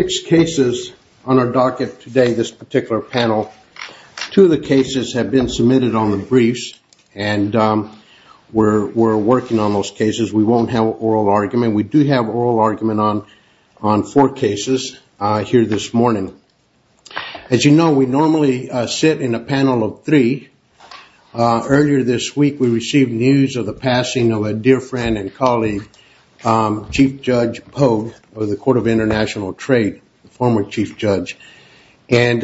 Six cases on our docket today, this particular panel. Two of the cases have been submitted on the briefs, and we're working on those cases. We won't have oral argument. We do have oral argument on four cases here this morning. As you know, we normally sit in a panel of three. Earlier this week, we received news of the passing of a dear friend and colleague, Chief Judge Pogue of the Court of International Trade, former Chief Judge. And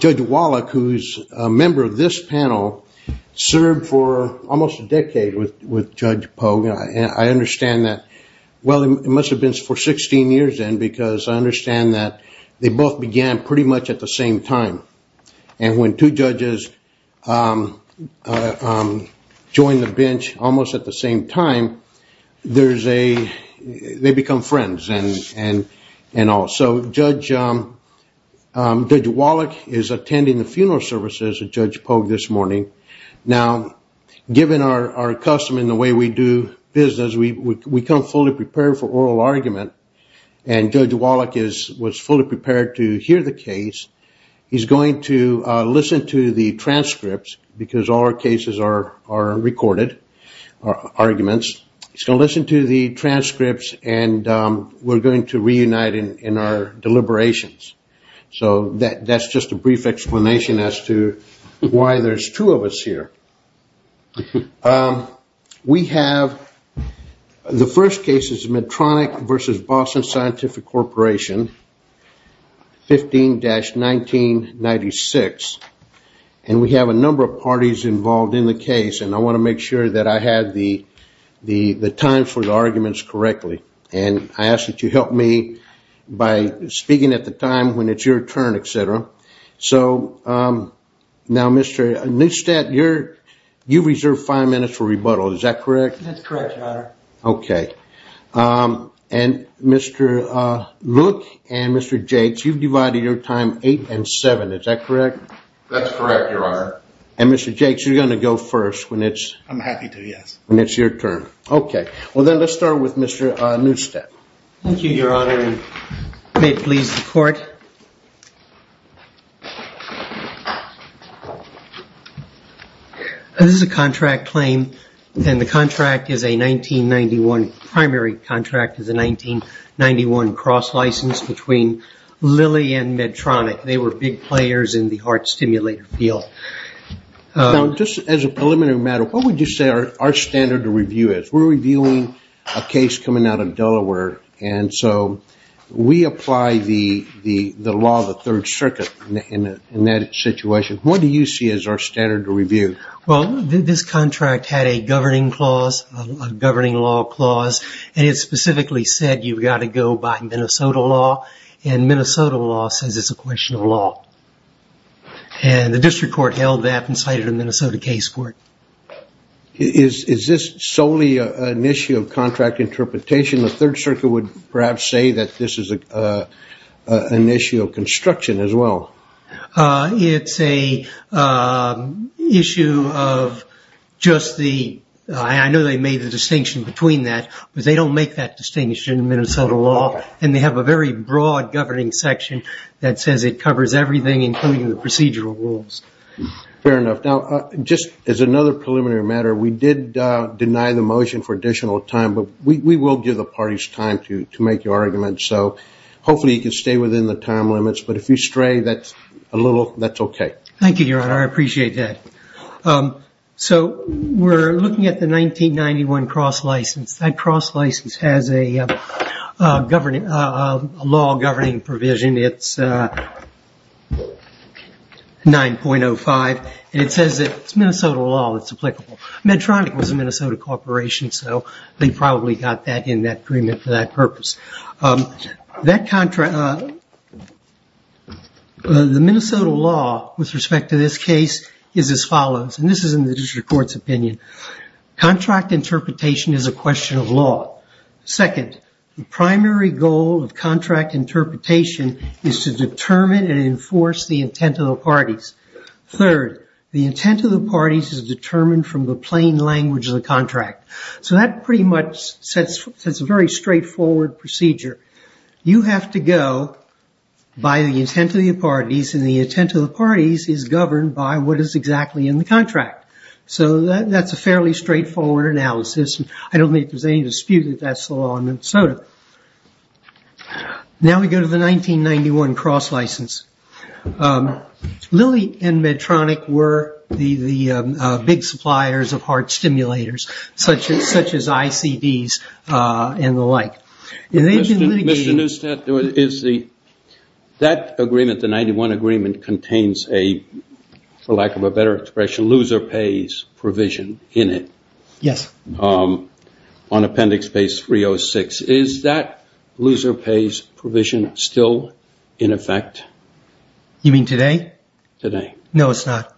Judge Wallach, who's a member of this panel, served for almost a decade with Judge Pogue. I understand that – well, it must have been for 16 years then because I understand that they both began pretty much at the same time. And when two judges join the bench almost at the same time, they become friends and all. So Judge Wallach is attending the funeral services of Judge Pogue this morning. Now, given our custom and the way we do business, we come fully prepared for oral argument. And Judge Wallach was fully prepared to hear the case. He's going to listen to the transcripts because all our cases are recorded, our arguments. He's going to listen to the transcripts, and we're going to reunite in our deliberations. So that's just a brief explanation as to why there's two of us here. We have the first case is Medtronic v. Boston Scientific Corporation, 15-1996. And we have a number of parties involved in the case, and I want to make sure that I have the time for the arguments correctly. And I ask that you help me by speaking at the time when it's your turn, et cetera. So now, Mr. Neustadt, you reserve five minutes for rebuttal. Is that correct? That's correct, Your Honor. Okay. And Mr. Luke and Mr. Jakes, you've divided your time eight and seven. Is that correct? That's correct, Your Honor. And Mr. Jakes, you're going to go first when it's your turn. I'm happy to, yes. Okay. Well, then let's start with Mr. Neustadt. Thank you, Your Honor. May it please the Court. This is a contract claim, and the contract is a 1991 primary contract. It's a 1991 cross license between Lilly and Medtronic. They were big players in the heart stimulator field. Now, just as a preliminary matter, what would you say our standard of review is? We're reviewing a case coming out of Delaware, and so we apply the law of the Third Circuit in that situation. What do you see as our standard of review? Well, this contract had a governing clause, a governing law clause, and it specifically said you've got to go by Minnesota law, and Minnesota law says it's a question of law. And the district court held that and cited a Minnesota case court. Is this solely an issue of contract interpretation? The Third Circuit would perhaps say that this is an issue of construction as well. It's an issue of just the – I know they made the distinction between that, but they don't make that distinction in Minnesota law, and they have a very broad governing section that says it covers everything, including the procedural rules. Fair enough. Now, just as another preliminary matter, we did deny the motion for additional time, but we will give the parties time to make your argument. So hopefully you can stay within the time limits, but if you stray a little, that's okay. Thank you, Your Honor. I appreciate that. So we're looking at the 1991 cross license. That cross license has a law governing provision. It's 9.05, and it says it's Minnesota law that's applicable. Medtronic was a Minnesota corporation, so they probably got that in that agreement for that purpose. The Minnesota law with respect to this case is as follows, and this is in the district court's opinion. Contract interpretation is a question of law. Second, the primary goal of contract interpretation is to determine and enforce the intent of the parties. Third, the intent of the parties is determined from the plain language of the contract. So that pretty much sets a very straightforward procedure. You have to go by the intent of the parties, and the intent of the parties is governed by what is exactly in the contract. So that's a fairly straightforward analysis. I don't think there's any dispute that that's the law in Minnesota. Now we go to the 1991 cross license. Lilly and Medtronic were the big suppliers of heart stimulators such as ICDs and the like. Mr. Neustadt, that agreement, the 91 agreement, contains a, for lack of a better expression, loser pays provision in it. Yes. On appendix base 306. Is that loser pays provision still in effect? You mean today? Today. No, it's not.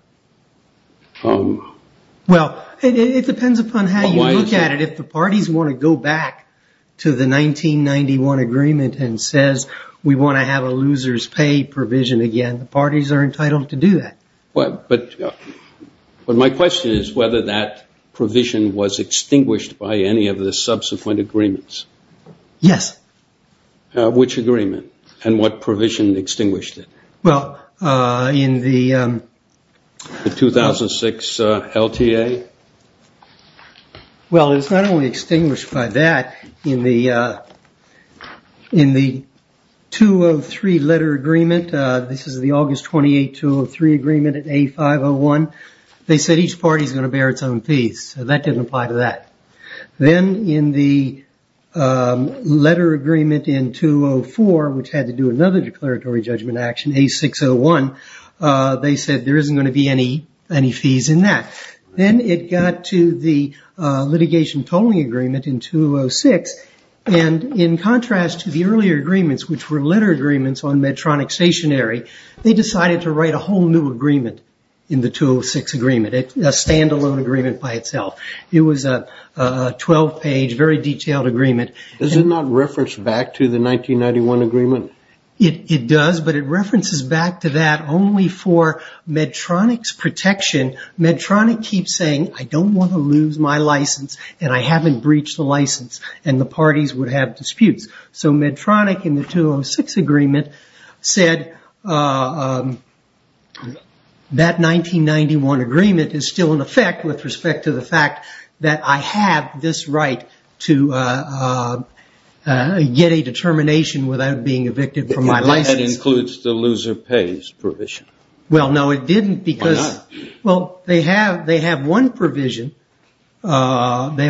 Well, it depends upon how you look at it. If the parties want to go back to the 1991 agreement and says, we want to have a loser's pay provision again, the parties are entitled to do that. But my question is whether that provision was extinguished by any of the subsequent agreements. Yes. Which agreement and what provision extinguished it? Well, in the. The 2006 LTA? Well, it's not only extinguished by that. In the 203 letter agreement, this is the August 28, 203 agreement at A501. They said each party is going to bear its own fees. So that didn't apply to that. Then in the letter agreement in 204, which had to do another declaratory judgment action, A601, they said there isn't going to be any fees in that. Then it got to the litigation tolling agreement in 206. And in contrast to the earlier agreements, which were letter agreements on Medtronic stationary, they decided to write a whole new agreement in the 206 agreement, a stand-alone agreement by itself. It was a 12-page, very detailed agreement. Does it not reference back to the 1991 agreement? It does, but it references back to that only for Medtronic's protection. Medtronic keeps saying, I don't want to lose my license, and I haven't breached the license, and the parties would have disputes. So Medtronic in the 206 agreement said that 1991 agreement is still in effect with respect to the fact that I have this right to get a determination without being evicted from my license. That includes the loser pays provision. Well, no, it didn't because. Well, they have one provision, which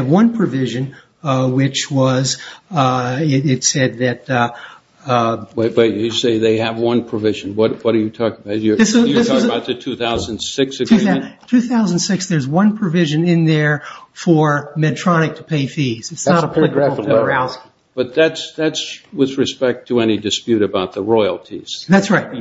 was, it said that. Wait, you say they have one provision. What are you talking about? You're talking about the 2006 agreement? 2006, there's one provision in there for Medtronic to pay fees. It's not applicable to Arousal. But that's with respect to any dispute about the royalties. That's right.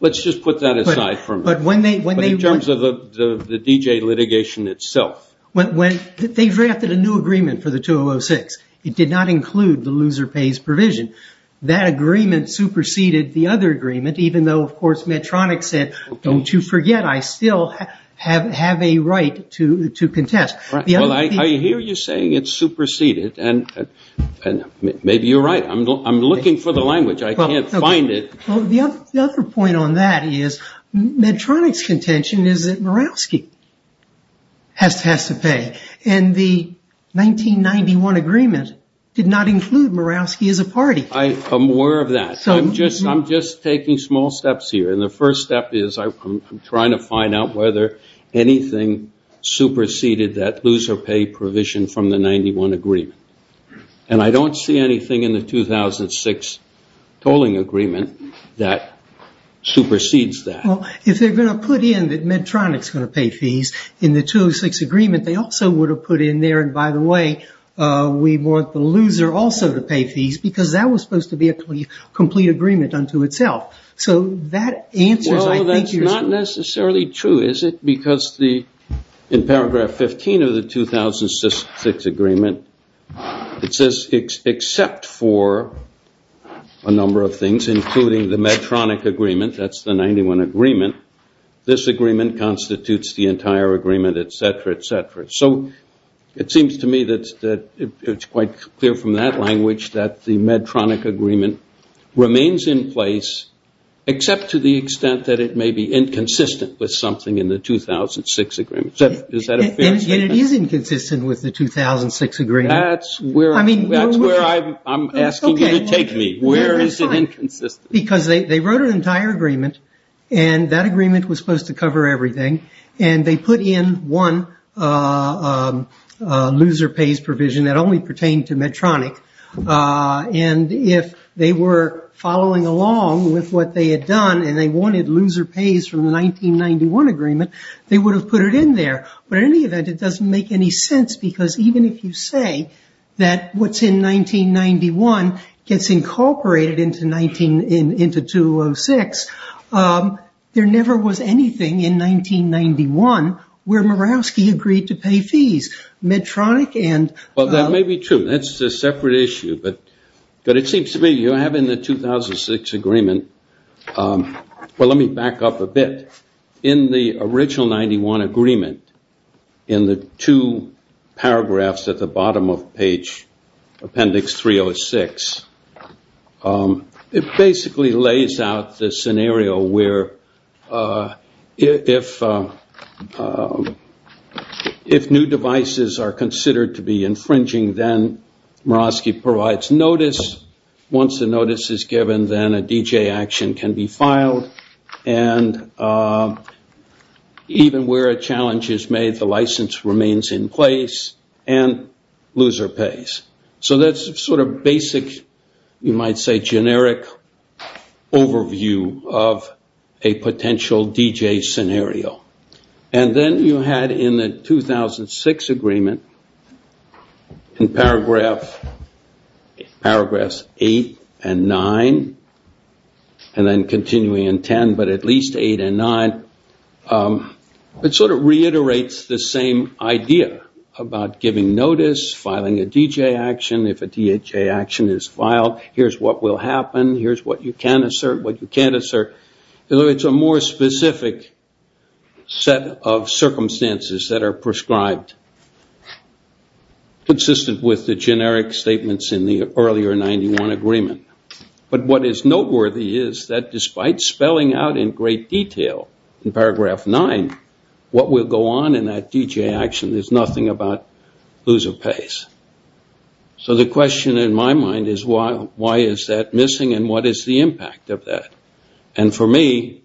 Let's just put that aside for a minute. But in terms of the D.J. litigation itself. They drafted a new agreement for the 2006. It did not include the loser pays provision. That agreement superseded the other agreement, even though, of course, Medtronic said, don't you forget I still have a right to contest. Well, I hear you saying it's superseded, and maybe you're right. I'm looking for the language. I can't find it. Well, the other point on that is Medtronic's contention is that Mirowski has to pay. And the 1991 agreement did not include Mirowski as a party. I'm aware of that. I'm just taking small steps here. And the first step is I'm trying to find out whether anything superseded that loser pay provision from the 91 agreement. And I don't see anything in the 2006 tolling agreement that supersedes that. Well, if they're going to put in that Medtronic's going to pay fees in the 2006 agreement, they also would have put in there, and by the way, we want the loser also to pay fees, because that was supposed to be a complete agreement unto itself. So that answers, I think, your question. It says, except for a number of things, including the Medtronic agreement, that's the 91 agreement, this agreement constitutes the entire agreement, et cetera, et cetera. So it seems to me that it's quite clear from that language that the Medtronic agreement remains in place, except to the extent that it may be inconsistent with something in the 2006 agreement. Is that a fair statement? And it is inconsistent with the 2006 agreement. That's where I'm asking you to take me. Where is it inconsistent? Because they wrote an entire agreement, and that agreement was supposed to cover everything, and they put in one loser pays provision that only pertained to Medtronic. And if they were following along with what they had done and they wanted loser pays from the 1991 agreement, they would have put it in there. But in any event, it doesn't make any sense, because even if you say that what's in 1991 gets incorporated into 2006, there never was anything in 1991 where Murawski agreed to pay fees. Medtronic and- Well, that may be true. That's a separate issue. But it seems to me you have in the 2006 agreement, well, let me back up a bit. In the original 91 agreement, in the two paragraphs at the bottom of page appendix 306, it basically lays out the scenario where if new devices are considered to be infringing, then Murawski provides notice. Once the notice is given, then a DJ action can be filed. And even where a challenge is made, the license remains in place and loser pays. So that's sort of basic, you might say generic, overview of a potential DJ scenario. And then you had in the 2006 agreement, in paragraphs 8 and 9, and then continuing in 10, but at least 8 and 9, it sort of reiterates the same idea about giving notice, filing a DJ action if a DJ action is filed. Here's what will happen. Here's what you can assert, what you can't assert. It's a more specific set of circumstances that are prescribed, consistent with the generic statements in the earlier 91 agreement. But what is noteworthy is that despite spelling out in great detail in paragraph 9, what will go on in that DJ action is nothing about loser pays. So the question in my mind is why is that missing and what is the impact of that? And for me,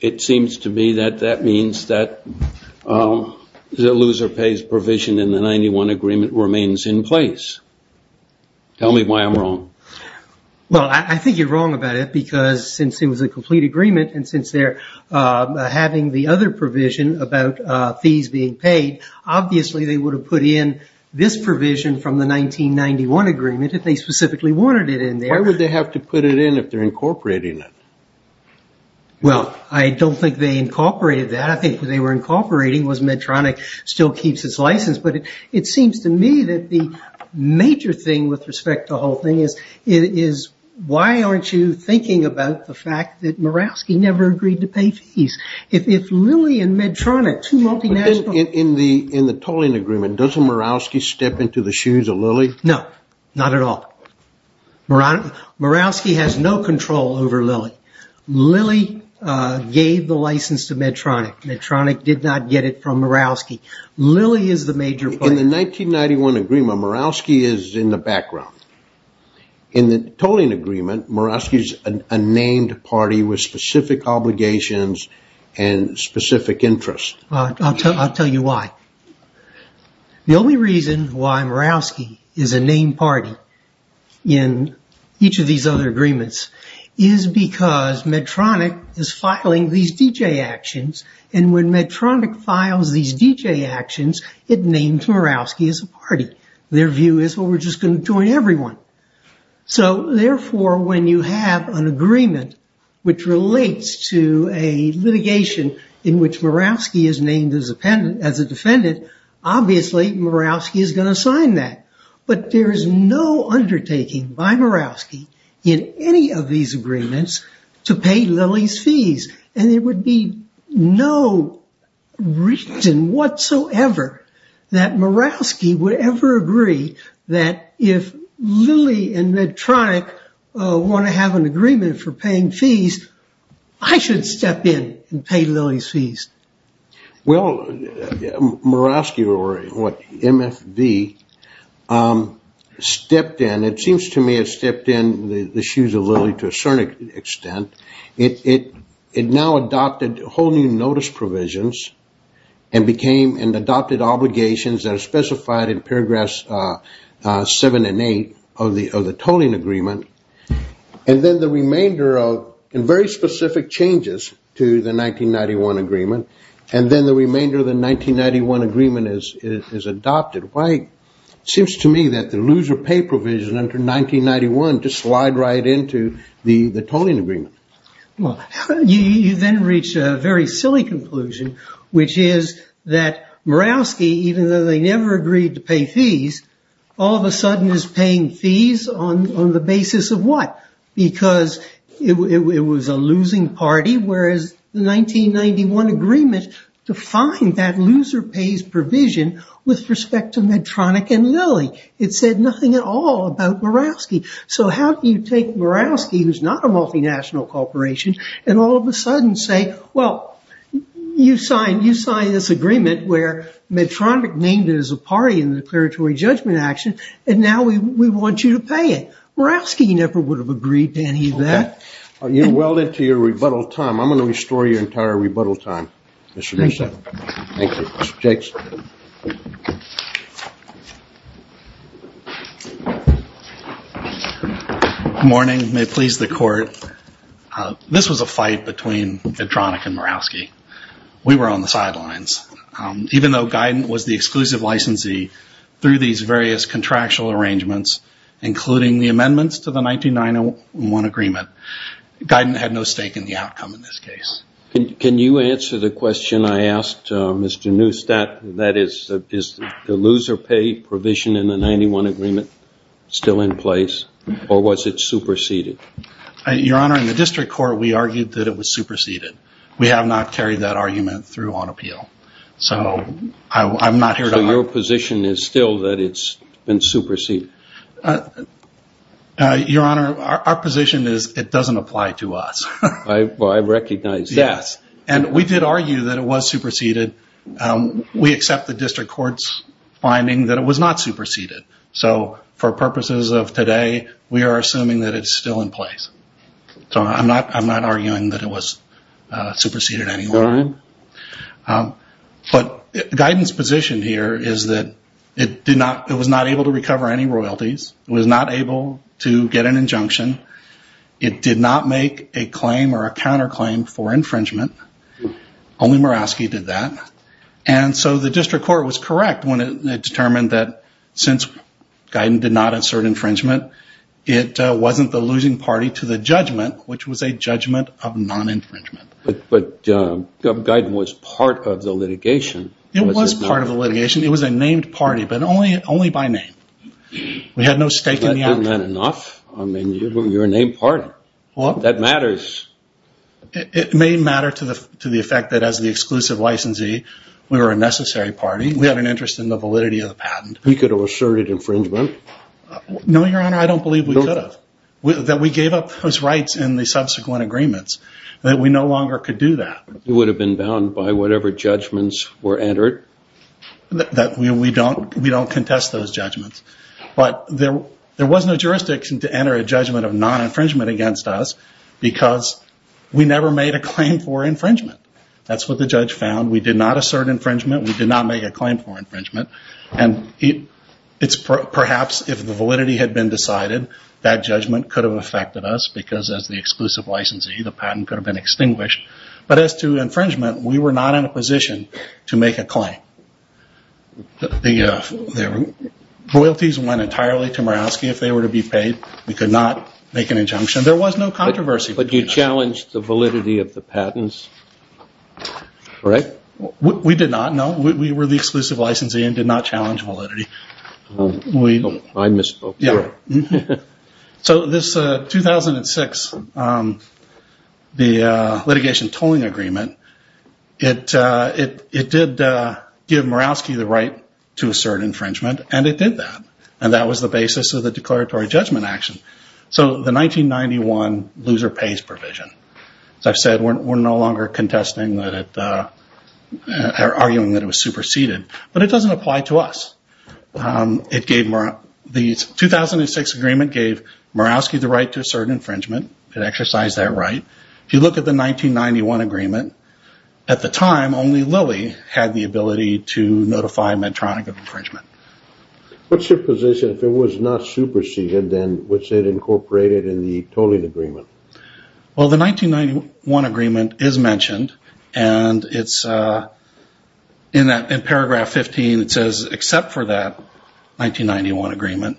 it seems to me that that means that the loser pays provision in the 91 agreement remains in place. Tell me why I'm wrong. Well, I think you're wrong about it because since it was a complete agreement and since they're having the other provision about fees being paid, obviously they would have put in this provision from the 1991 agreement if they specifically wanted it in there. Why would they have to put it in if they're incorporating it? Well, I don't think they incorporated that. I think what they were incorporating was Medtronic still keeps its license. But it seems to me that the major thing with respect to the whole thing is why aren't you thinking about the fact that Murawski never agreed to pay fees? In the tolling agreement, doesn't Murawski step into the shoes of Lilly? No, not at all. Murawski has no control over Lilly. Lilly gave the license to Medtronic. Medtronic did not get it from Murawski. Lilly is the major player. In the 1991 agreement, Murawski is in the background. In the tolling agreement, Murawski is a named party with specific obligations and specific interests. I'll tell you why. The only reason why Murawski is a named party in each of these other agreements is because Medtronic is filing these DJ actions, and when Medtronic files these DJ actions, it names Murawski as a party. Their view is, well, we're just going to join everyone. So therefore, when you have an agreement which relates to a litigation in which Murawski is named as a defendant, obviously Murawski is going to sign that. But there is no undertaking by Murawski in any of these agreements to pay Lilly's fees, and there would be no reason whatsoever that Murawski would ever agree that if Lilly and Medtronic want to have an agreement for paying fees, I should step in and pay Lilly's fees. Well, Murawski, or what, MFD, stepped in. It seems to me it stepped in the shoes of Lilly to a certain extent. It now adopted whole new notice provisions and adopted obligations that are specified in paragraphs 7 and 8 of the tolling agreement, and then the remainder of very specific changes to the 1991 agreement, and then the remainder of the 1991 agreement is adopted. Why it seems to me that the loser pay provision under 1991 just slide right into the tolling agreement. You then reach a very silly conclusion, which is that Murawski, even though they never agreed to pay fees, all of a sudden is paying fees on the basis of what? Because it was a losing party, whereas the 1991 agreement defined that loser pays provision with respect to Medtronic and Lilly. It said nothing at all about Murawski. So how can you take Murawski, who's not a multinational corporation, and all of a sudden say, well, you signed this agreement where Medtronic named it as a party in the declaratory judgment action, and now we want you to pay it. Murawski never would have agreed to any of that. You're well into your rebuttal time. I'm going to restore your entire rebuttal time, Mr. Nusselt. Thank you. Mr. Jakes. Good morning. May it please the court. This was a fight between Medtronic and Murawski. We were on the sidelines. Even though Guyton was the exclusive licensee through these various contractual arrangements, including the amendments to the 1991 agreement, Guyton had no stake in the outcome in this case. Can you answer the question I asked, Mr. Nusselt? That is, is the loser pay provision in the 91 agreement still in place, or was it superseded? Your Honor, in the district court we argued that it was superseded. We have not carried that argument through on appeal. So I'm not here to argue. So your position is still that it's been superseded? Your Honor, our position is it doesn't apply to us. I recognize that. Yes. And we did argue that it was superseded. We accept the district court's finding that it was not superseded. So for purposes of today, we are assuming that it's still in place. So I'm not arguing that it was superseded anyway. But Guyton's position here is that it was not able to recover any royalties. It was not able to get an injunction. It did not make a claim or a counterclaim for infringement. Only Murawski did that. And so the district court was correct when it determined that since Guyton did not insert infringement, it wasn't the losing party to the judgment, which was a judgment of non-infringement. But Guyton was part of the litigation. It was part of the litigation. It was a named party, but only by name. We had no stake in the outcome. Is that enough? I mean, you're a named party. That matters. It may matter to the effect that as the exclusive licensee, we were a necessary party. We had an interest in the validity of the patent. We could have asserted infringement. No, Your Honor, I don't believe we could have. That we gave up those rights in the subsequent agreements, that we no longer could do that. You would have been bound by whatever judgments were entered. We don't contest those judgments. But there was no jurisdiction to enter a judgment of non-infringement against us because we never made a claim for infringement. That's what the judge found. We did not assert infringement. We did not make a claim for infringement. And perhaps if the validity had been decided, that judgment could have affected us because as the exclusive licensee, the patent could have been extinguished. But as to infringement, we were not in a position to make a claim. The royalties went entirely to Murawski. If they were to be paid, we could not make an injunction. There was no controversy. But you challenged the validity of the patents, correct? We did not, no. We were the exclusive licensee and did not challenge validity. I misspoke there. So this 2006, the litigation tolling agreement, it did give Murawski the right to assert infringement, and it did that. And that was the basis of the declaratory judgment action. So the 1991 loser pays provision. As I've said, we're no longer contesting or arguing that it was superseded. But it doesn't apply to us. The 2006 agreement gave Murawski the right to assert infringement. It exercised that right. If you look at the 1991 agreement, at the time, only Lilly had the ability to notify Medtronic of infringement. What's your position? If it was not superseded, then was it incorporated in the tolling agreement? Well, the 1991 agreement is mentioned. And in paragraph 15 it says, except for that 1991 agreement,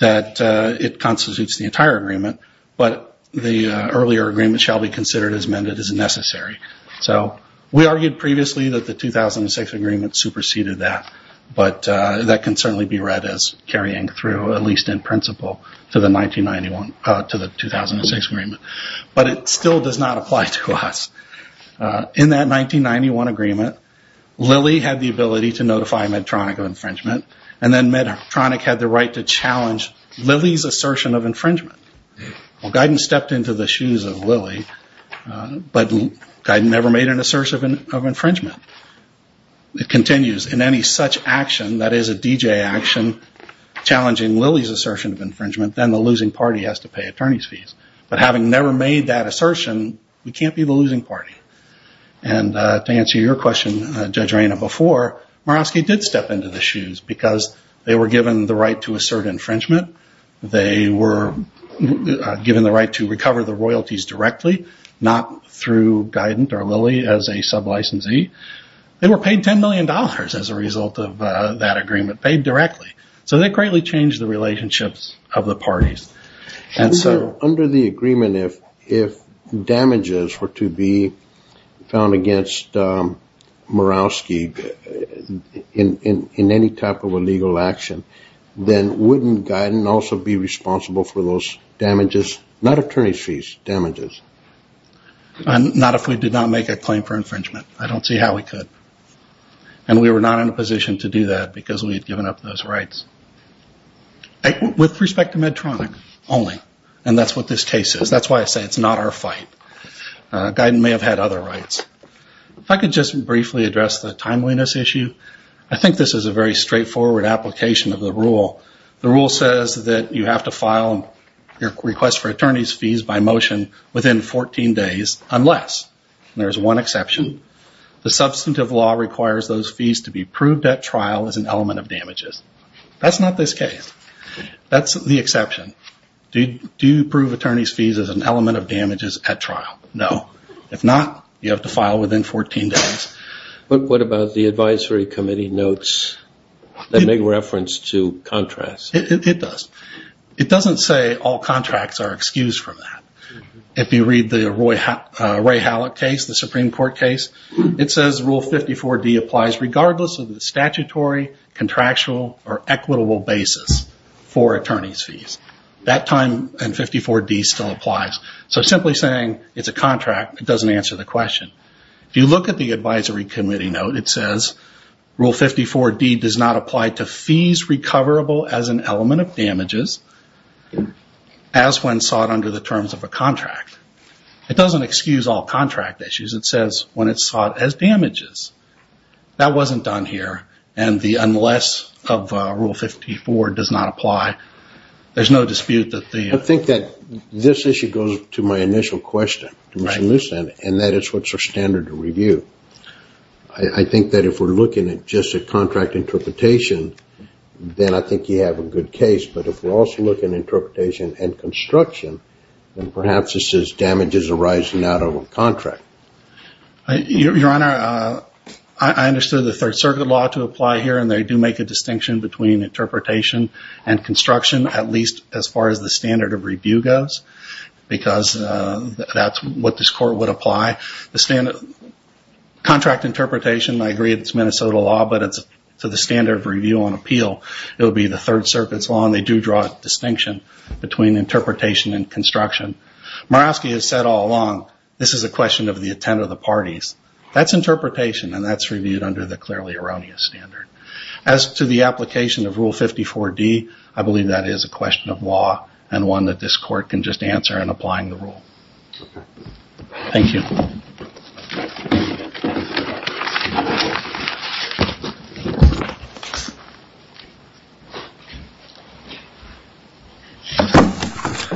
that it constitutes the entire agreement, but the earlier agreement shall be considered as amended as necessary. So we argued previously that the 2006 agreement superseded that. But that can certainly be read as carrying through, at least in principle, to the 2006 agreement. But it still does not apply to us. In that 1991 agreement, Lilly had the ability to notify Medtronic of infringement, and then Medtronic had the right to challenge Lilly's assertion of infringement. Well, Guyton stepped into the shoes of Lilly, but Guyton never made an assertion of infringement. It continues, in any such action that is a DJ action, challenging Lilly's assertion of infringement, then the losing party has to pay attorney's fees. But having never made that assertion, we can't be the losing party. And to answer your question, Judge Reyna, before, Murawski did step into the shoes, because they were given the right to assert infringement. They were given the right to recover the royalties directly, not through Guyton or Lilly as a sub-licensee. They were paid $10 million as a result of that agreement, paid directly. So they greatly changed the relationships of the parties. Under the agreement, if damages were to be found against Murawski in any type of illegal action, then wouldn't Guyton also be responsible for those damages, not attorney's fees, damages? Not if we did not make a claim for infringement. I don't see how we could. And we were not in a position to do that, because we had given up those rights. With respect to Medtronic only, and that's what this case is. That's why I say it's not our fight. Guyton may have had other rights. If I could just briefly address the timeliness issue. I think this is a very straightforward application of the rule. The rule says that you have to file your request for attorney's fees by motion within 14 days, unless, and there's one exception, the substantive law requires those fees to be proved at trial as an element of damages. That's not this case. That's the exception. Do you prove attorney's fees as an element of damages at trial? No. If not, you have to file within 14 days. What about the advisory committee notes that make reference to contracts? It does. It doesn't say all contracts are excused from that. If you read the Ray Hallock case, the Supreme Court case, it says Rule 54D applies regardless of the statutory, contractual, or equitable basis for attorney's fees. That time in 54D still applies. Simply saying it's a contract doesn't answer the question. If you look at the advisory committee note, it says, Rule 54D does not apply to fees recoverable as an element of damages, as when sought under the terms of a contract. It doesn't excuse all contract issues. It says when it's sought as damages. That wasn't done here, and the unless of Rule 54 does not apply, there's no dispute that the- I think that this issue goes to my initial question to Mr. Lucen, and that it's what's our standard to review. I think that if we're looking at just a contract interpretation, then I think you have a good case. But if we're also looking at interpretation and construction, then perhaps it says damages arising out of a contract. Your Honor, I understood the Third Circuit law to apply here, and they do make a distinction between interpretation and construction, at least as far as the standard of review goes, because that's what this court would apply. Contract interpretation, I agree it's Minnesota law, but it's to the standard of review on appeal. It would be the Third Circuit's law, and they do draw a distinction between interpretation and construction. Murawski has said all along, this is a question of the intent of the parties. That's interpretation, and that's reviewed under the clearly erroneous standard. As to the application of Rule 54D, I believe that is a question of law and one that this court can just answer in applying the rule. Thank you.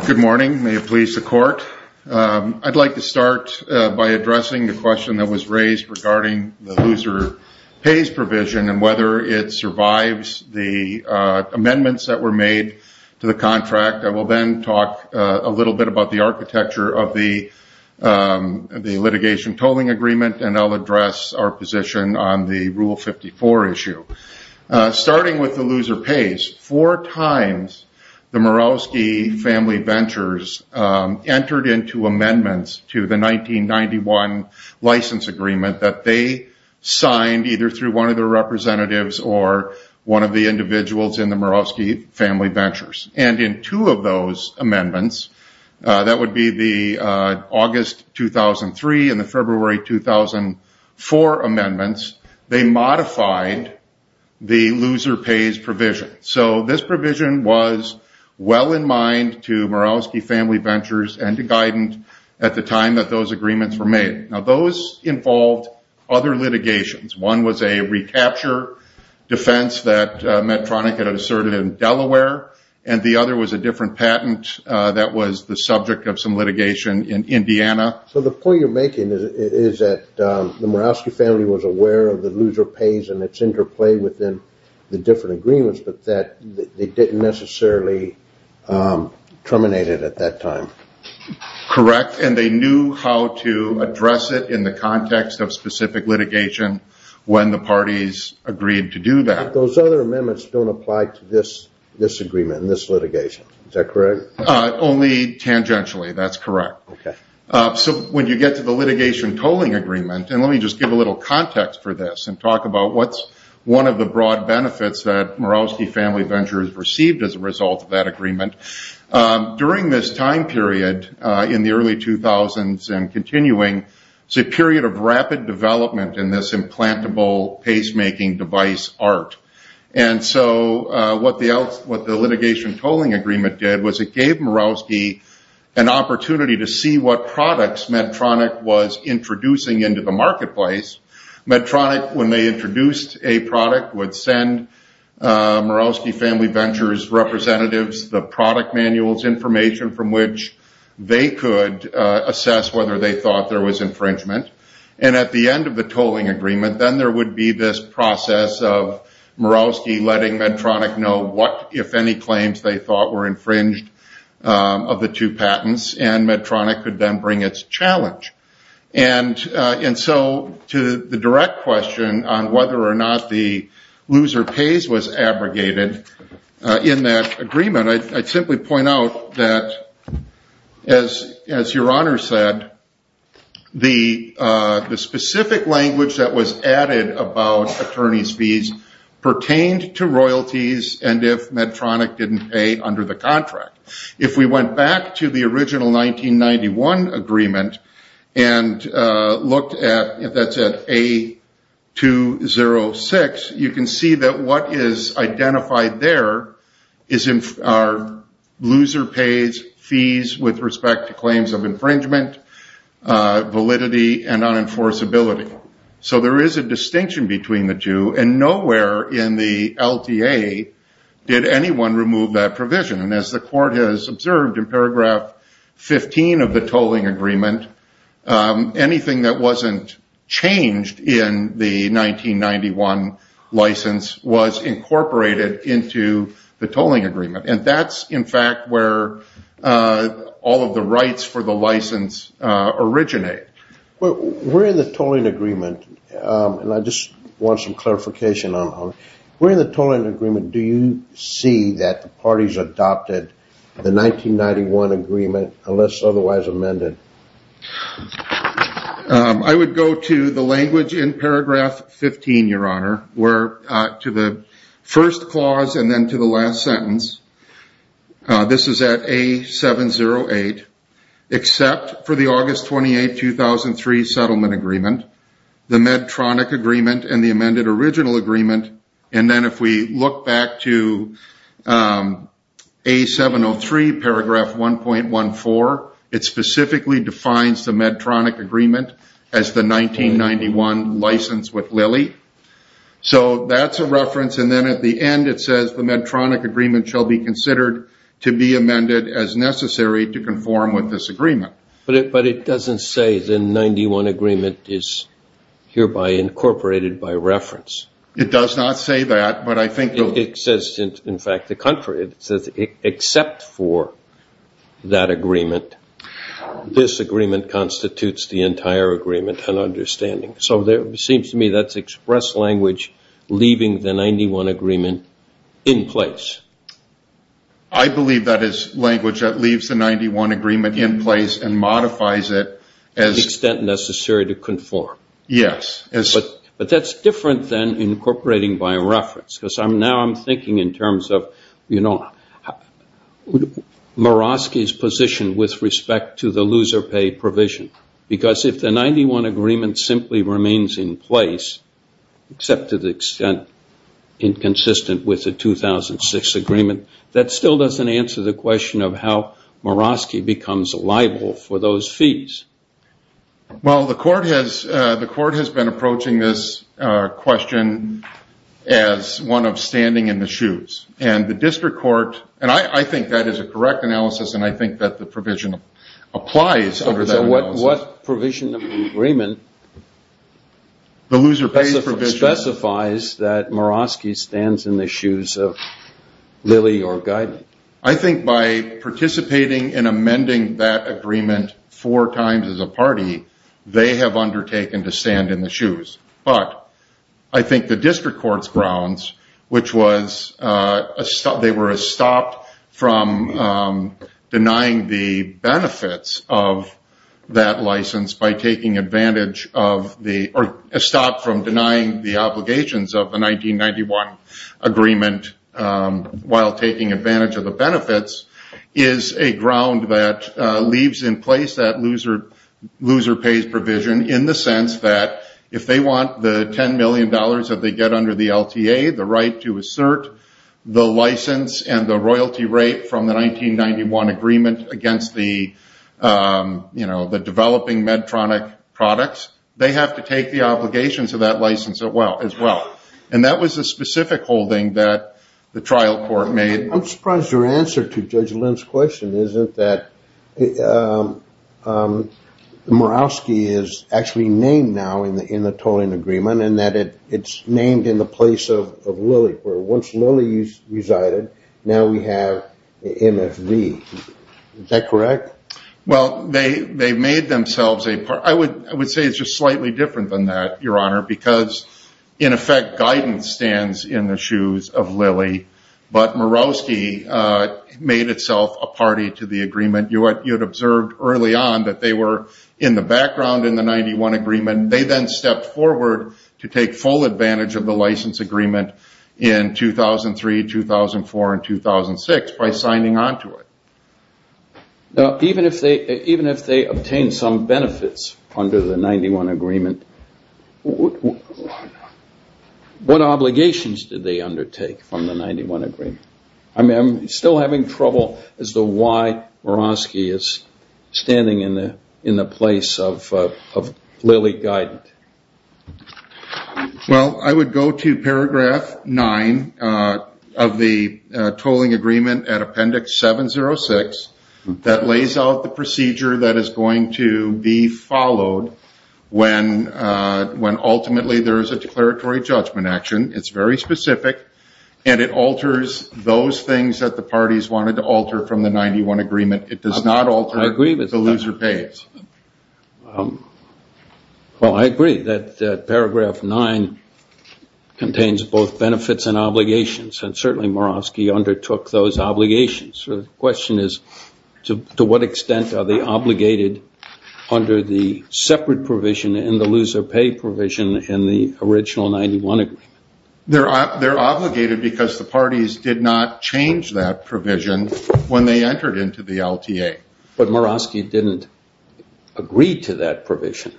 Good morning. May it please the court. I'd like to start by addressing the question that was raised regarding the loser pays provision and whether it survives the amendments that were made to the contract. I will then talk a little bit about the architecture of the litigation tolling agreement, and I'll address our position on the Rule 54 issue. Starting with the loser pays, four times the Murawski family ventures entered into amendments to the 1991 license agreement that they signed either through one of their representatives or one of the individuals in the Murawski family ventures. In two of those amendments, that would be the August 2003 and the February 2004 amendments, they modified the loser pays provision. This provision was well in mind to Murawski family ventures and to Guidant at the time that those agreements were made. Those involved other litigations. One was a recapture defense that Medtronic had asserted in Delaware, and the other was a different patent that was the subject of some litigation in Indiana. The point you're making is that the Murawski family was aware of the loser pays and its interplay within the different agreements, but that they didn't necessarily terminate it at that time. Correct, and they knew how to address it in the context of specific litigation when the parties agreed to do that. But those other amendments don't apply to this agreement, this litigation, is that correct? Only tangentially, that's correct. When you get to the litigation tolling agreement, and let me just give a little context for this and talk about what's one of the broad benefits that Murawski family ventures received as a result of that agreement. During this time period in the early 2000s and continuing, it's a period of rapid development in this implantable pacemaking device art. What the litigation tolling agreement did was it gave Murawski an opportunity to see what products Medtronic was introducing into the marketplace. Medtronic, when they introduced a product, would send Murawski family ventures representatives the product manuals information from which they could assess whether they thought there was infringement. At the end of the tolling agreement, then there would be this process of Murawski letting Medtronic know what, if any, claims they thought were infringed of the two patents, and Medtronic would then bring its challenge. And so to the direct question on whether or not the loser pays was abrogated in that agreement, I'd simply point out that, as Your Honor said, the specific language that was added about attorney's fees pertained to royalties and if Medtronic didn't pay under the contract. If we went back to the original 1991 agreement and looked at, if that's at A206, you can see that what is identified there are loser pays, fees with respect to claims of infringement, validity, and unenforceability. So there is a distinction between the two, and nowhere in the LTA did anyone remove that provision. And as the court has observed in paragraph 15 of the tolling agreement, anything that wasn't changed in the 1991 license was incorporated into the tolling agreement. And that's, in fact, where all of the rights for the license originate. Well, where in the tolling agreement, and I just want some clarification on that, where in the tolling agreement do you see that the parties adopted the 1991 agreement unless otherwise amended? I would go to the language in paragraph 15, Your Honor, where to the first clause and then to the last sentence, this is at A708, except for the August 28, 2003 settlement agreement, the Medtronic agreement and the amended original agreement, and then if we look back to A703, paragraph 1.14, it specifically defines the Medtronic agreement as the 1991 license with Lilly. So that's a reference, and then at the end it says, the Medtronic agreement shall be considered to be amended as necessary to conform with this agreement. But it doesn't say the 91 agreement is hereby incorporated by reference. It does not say that, but I think it will. It says, in fact, the contrary. It says except for that agreement, this agreement constitutes the entire agreement and understanding. So it seems to me that's express language leaving the 91 agreement in place. I believe that is language that leaves the 91 agreement in place and modifies it to the extent necessary to conform. Yes. But that's different than incorporating by reference because now I'm thinking in terms of Morosky's position with respect to the loser pay provision. Because if the 91 agreement simply remains in place, except to the extent inconsistent with the 2006 agreement, that still doesn't answer the question of how Morosky becomes liable for those fees. Well, the court has been approaching this question as one of standing in the shoes. And the district court, and I think that is a correct analysis, and I think that the provision applies over that analysis. So what provision agreement specifies that Morosky stands in the shoes of Lilly or Guyton? I think by participating in amending that agreement four times as a party, they have undertaken to stand in the shoes. But I think the district court's grounds, which was they were stopped from denying the benefits of that license by taking advantage of the or stopped from denying the obligations of the 1991 agreement while taking advantage of the benefits, is a ground that leaves in place that loser pays provision in the sense that if they want the $10 million that they get under the LTA, the right to assert the license and the royalty rate from the 1991 agreement against the developing Medtronic products, they have to take the obligations of that license as well. And that was the specific holding that the trial court made. I'm surprised your answer to Judge Lynn's question isn't that Morosky is actually named now in the tolling agreement and that it's named in the place of Lilly, where once Lilly resided, now we have MFV. Is that correct? Well, they made themselves a party. I would say it's just slightly different than that, Your Honor, because in effect Guyton stands in the shoes of Lilly, but Morosky made itself a party to the agreement. You had observed early on that they were in the background in the 91 agreement. They then stepped forward to take full advantage of the license agreement in 2003, 2004, and 2006 by signing on to it. Even if they obtained some benefits under the 91 agreement, what obligations did they undertake from the 91 agreement? I'm still having trouble as to why Morosky is standing in the place of Lilly Guyton. Well, I would go to paragraph 9 of the tolling agreement at appendix 706 that lays out the procedure that is going to be followed when ultimately there is a declaratory judgment action. It's very specific, and it alters those things that the parties wanted to alter from the 91 agreement. It does not alter the loser pays. Well, I agree that paragraph 9 contains both benefits and obligations, and certainly Morosky undertook those obligations. So the question is to what extent are they obligated under the separate provision and the loser pay provision in the original 91 agreement? They're obligated because the parties did not change that provision when they entered into the LTA. But Morosky didn't agree to that provision.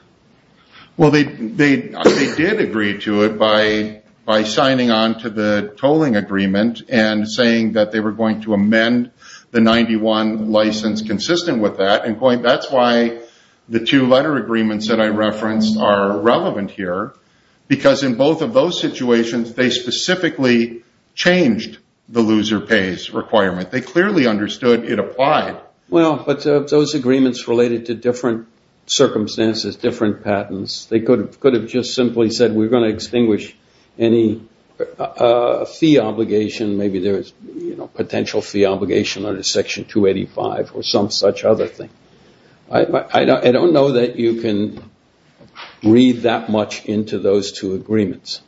Well, they did agree to it by signing on to the tolling agreement and saying that they were going to amend the 91 license consistent with that. That's why the two letter agreements that I referenced are relevant here, because in both of those situations they specifically changed the loser pays requirement. They clearly understood it applied. Well, but those agreements related to different circumstances, different patents. They could have just simply said we're going to extinguish any fee obligation. Maybe there is potential fee obligation under Section 285 or some such other thing. I don't know that you can read that much into those two agreements.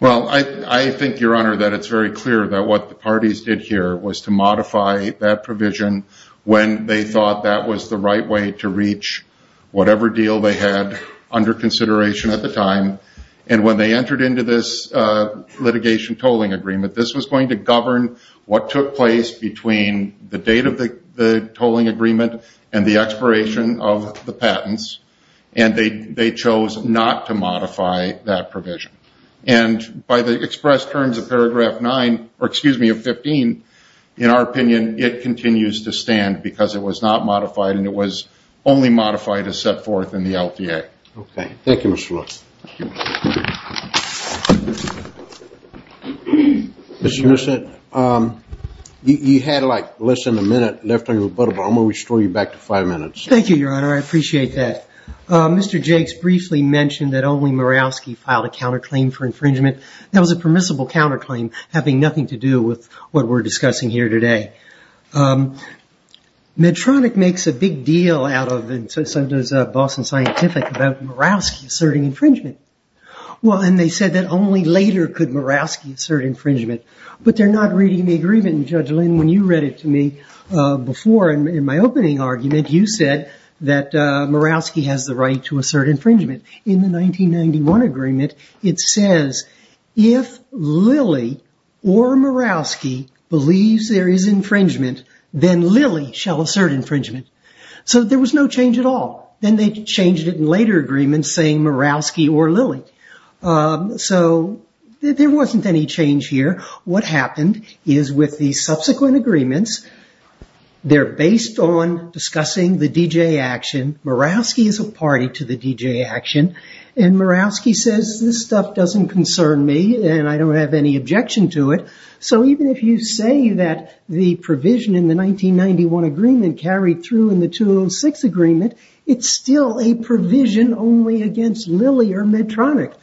Well, I think, Your Honor, that it's very clear that what the parties did here was to modify that provision when they thought that was the right way to reach whatever deal they had under consideration at the time. And when they entered into this litigation tolling agreement, this was going to govern what took place between the date of the tolling agreement and the expiration of the patents. And they chose not to modify that provision. And by the express terms of Paragraph 9, or excuse me, of 15, in our opinion, it continues to stand because it was not modified and it was only modified as set forth in the LTA. Okay. Thank you, Mr. Lewis. Mr. Nissen, you had like less than a minute left on your rebuttal, but I'm going to restore you back to five minutes. Thank you, Your Honor. I appreciate that. Mr. Jakes briefly mentioned that only Murawski filed a counterclaim for infringement. That was a permissible counterclaim having nothing to do with what we're discussing here today. Medtronic makes a big deal out of it, and so does Boston Scientific, about Murawski asserting infringement. Well, and they said that only later could Murawski assert infringement. But they're not reading the agreement. And Judge Lynn, when you read it to me before in my opening argument, you said that Murawski has the right to assert infringement. In the 1991 agreement, it says, if Lilly or Murawski believes there is infringement, then Lilly shall assert infringement. So there was no change at all. Then they changed it in later agreements saying Murawski or Lilly. So there wasn't any change here. What happened is with the subsequent agreements, they're based on discussing the DJ action. Murawski is a party to the DJ action. And Murawski says, this stuff doesn't concern me, and I don't have any objection to it. So even if you say that the provision in the 1991 agreement carried through in the 2006 agreement, it's still a provision only against Lilly or Medtronic.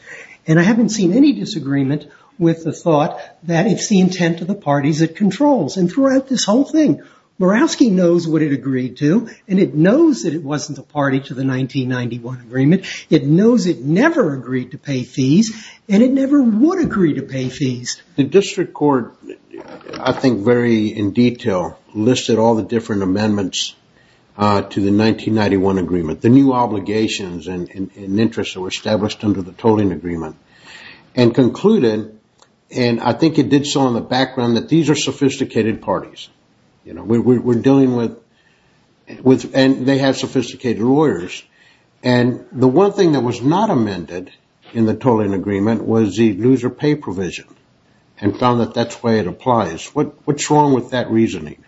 And I haven't seen any disagreement with the thought that it's the intent of the parties it controls. And throughout this whole thing, Murawski knows what it agreed to, and it knows that it wasn't a party to the 1991 agreement. It knows it never agreed to pay fees, and it never would agree to pay fees. The district court, I think, very in detail listed all the different amendments to the 1991 agreement. The new obligations and interests that were established under the tolling agreement. And concluded, and I think it did so in the background, that these are sophisticated parties. We're dealing with, and they have sophisticated lawyers. And the one thing that was not amended in the tolling agreement was the loser pay provision and found that that's the way it applies. What's wrong with that reasoning?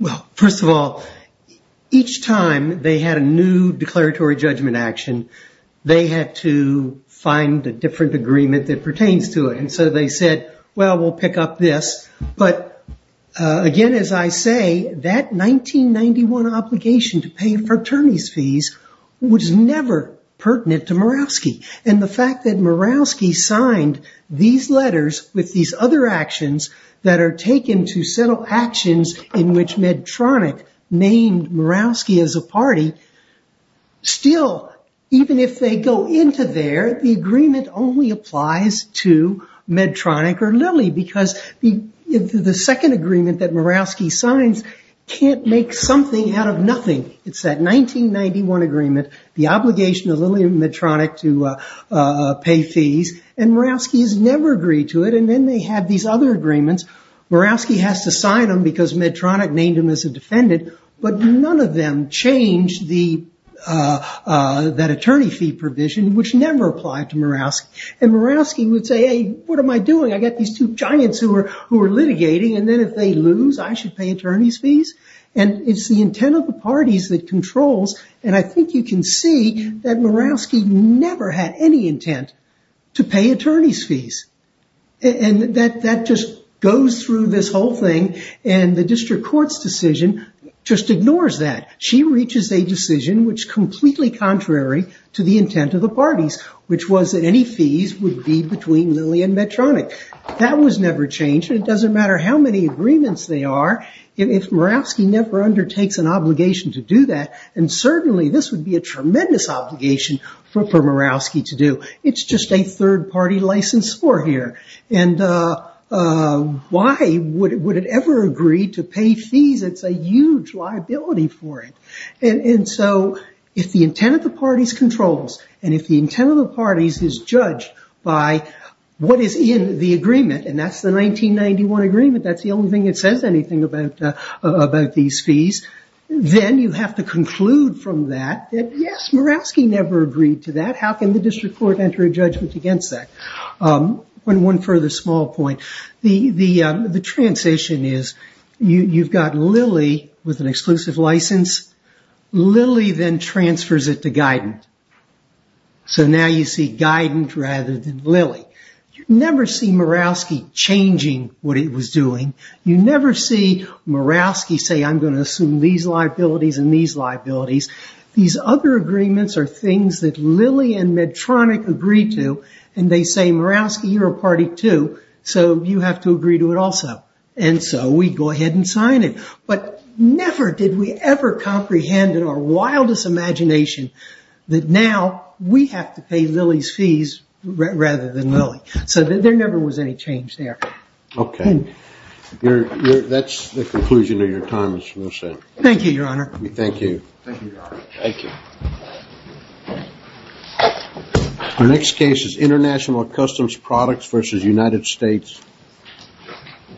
Well, first of all, each time they had a new declaratory judgment action, they had to find a different agreement that pertains to it. And so they said, well, we'll pick up this. But again, as I say, that 1991 obligation to pay fraternity's fees was never pertinent to Murawski. And the fact that Murawski signed these letters with these other actions that are taken to settle actions in which Medtronic named Murawski as a party, still, even if they go into there, the agreement only applies to Medtronic or Lilly. Because the second agreement that Murawski signs can't make something out of nothing. It's that 1991 agreement, the obligation of Lilly and Medtronic to pay fees, and Murawski has never agreed to it. And then they had these other agreements. Murawski has to sign them because Medtronic named him as a defendant. But none of them changed that attorney fee provision, which never applied to Murawski. And Murawski would say, hey, what am I doing? I've got these two giants who are litigating. And then if they lose, I should pay attorney's fees? And it's the intent of the parties that controls. And I think you can see that Murawski never had any intent to pay attorney's fees. And that just goes through this whole thing. And the district court's decision just ignores that. She reaches a decision which is completely contrary to the intent of the parties, which was that any fees would be between Lilly and Medtronic. That was never changed, and it doesn't matter how many agreements there are, if Murawski never undertakes an obligation to do that and certainly this would be a tremendous obligation for Murawski to do. It's just a third-party license for here. And why would it ever agree to pay fees? It's a huge liability for it. And so if the intent of the parties controls, and if the intent of the parties is judged by what is in the agreement, and that's the 1991 agreement, that's the only thing that says anything about these fees, then you have to conclude from that that, yes, Murawski never agreed to that. How can the district court enter a judgment against that? One further small point. The transition is you've got Lilly with an exclusive license. Lilly then transfers it to Guidant. So now you see Guidant rather than Lilly. You never see Murawski changing what it was doing. You never see Murawski say, I'm going to assume these liabilities and these liabilities. These other agreements are things that Lilly and Medtronic agreed to, and they say, Murawski, you're a party too, so you have to agree to it also. And so we go ahead and sign it. But never did we ever comprehend in our wildest imagination that now we have to pay Lilly's fees rather than Lilly. So there never was any change there. Okay. That's the conclusion of your time, Mr. Wilson. Thank you, Your Honor. Thank you. Thank you, Your Honor. Thank you. Our next case is International Customs Products v. United States.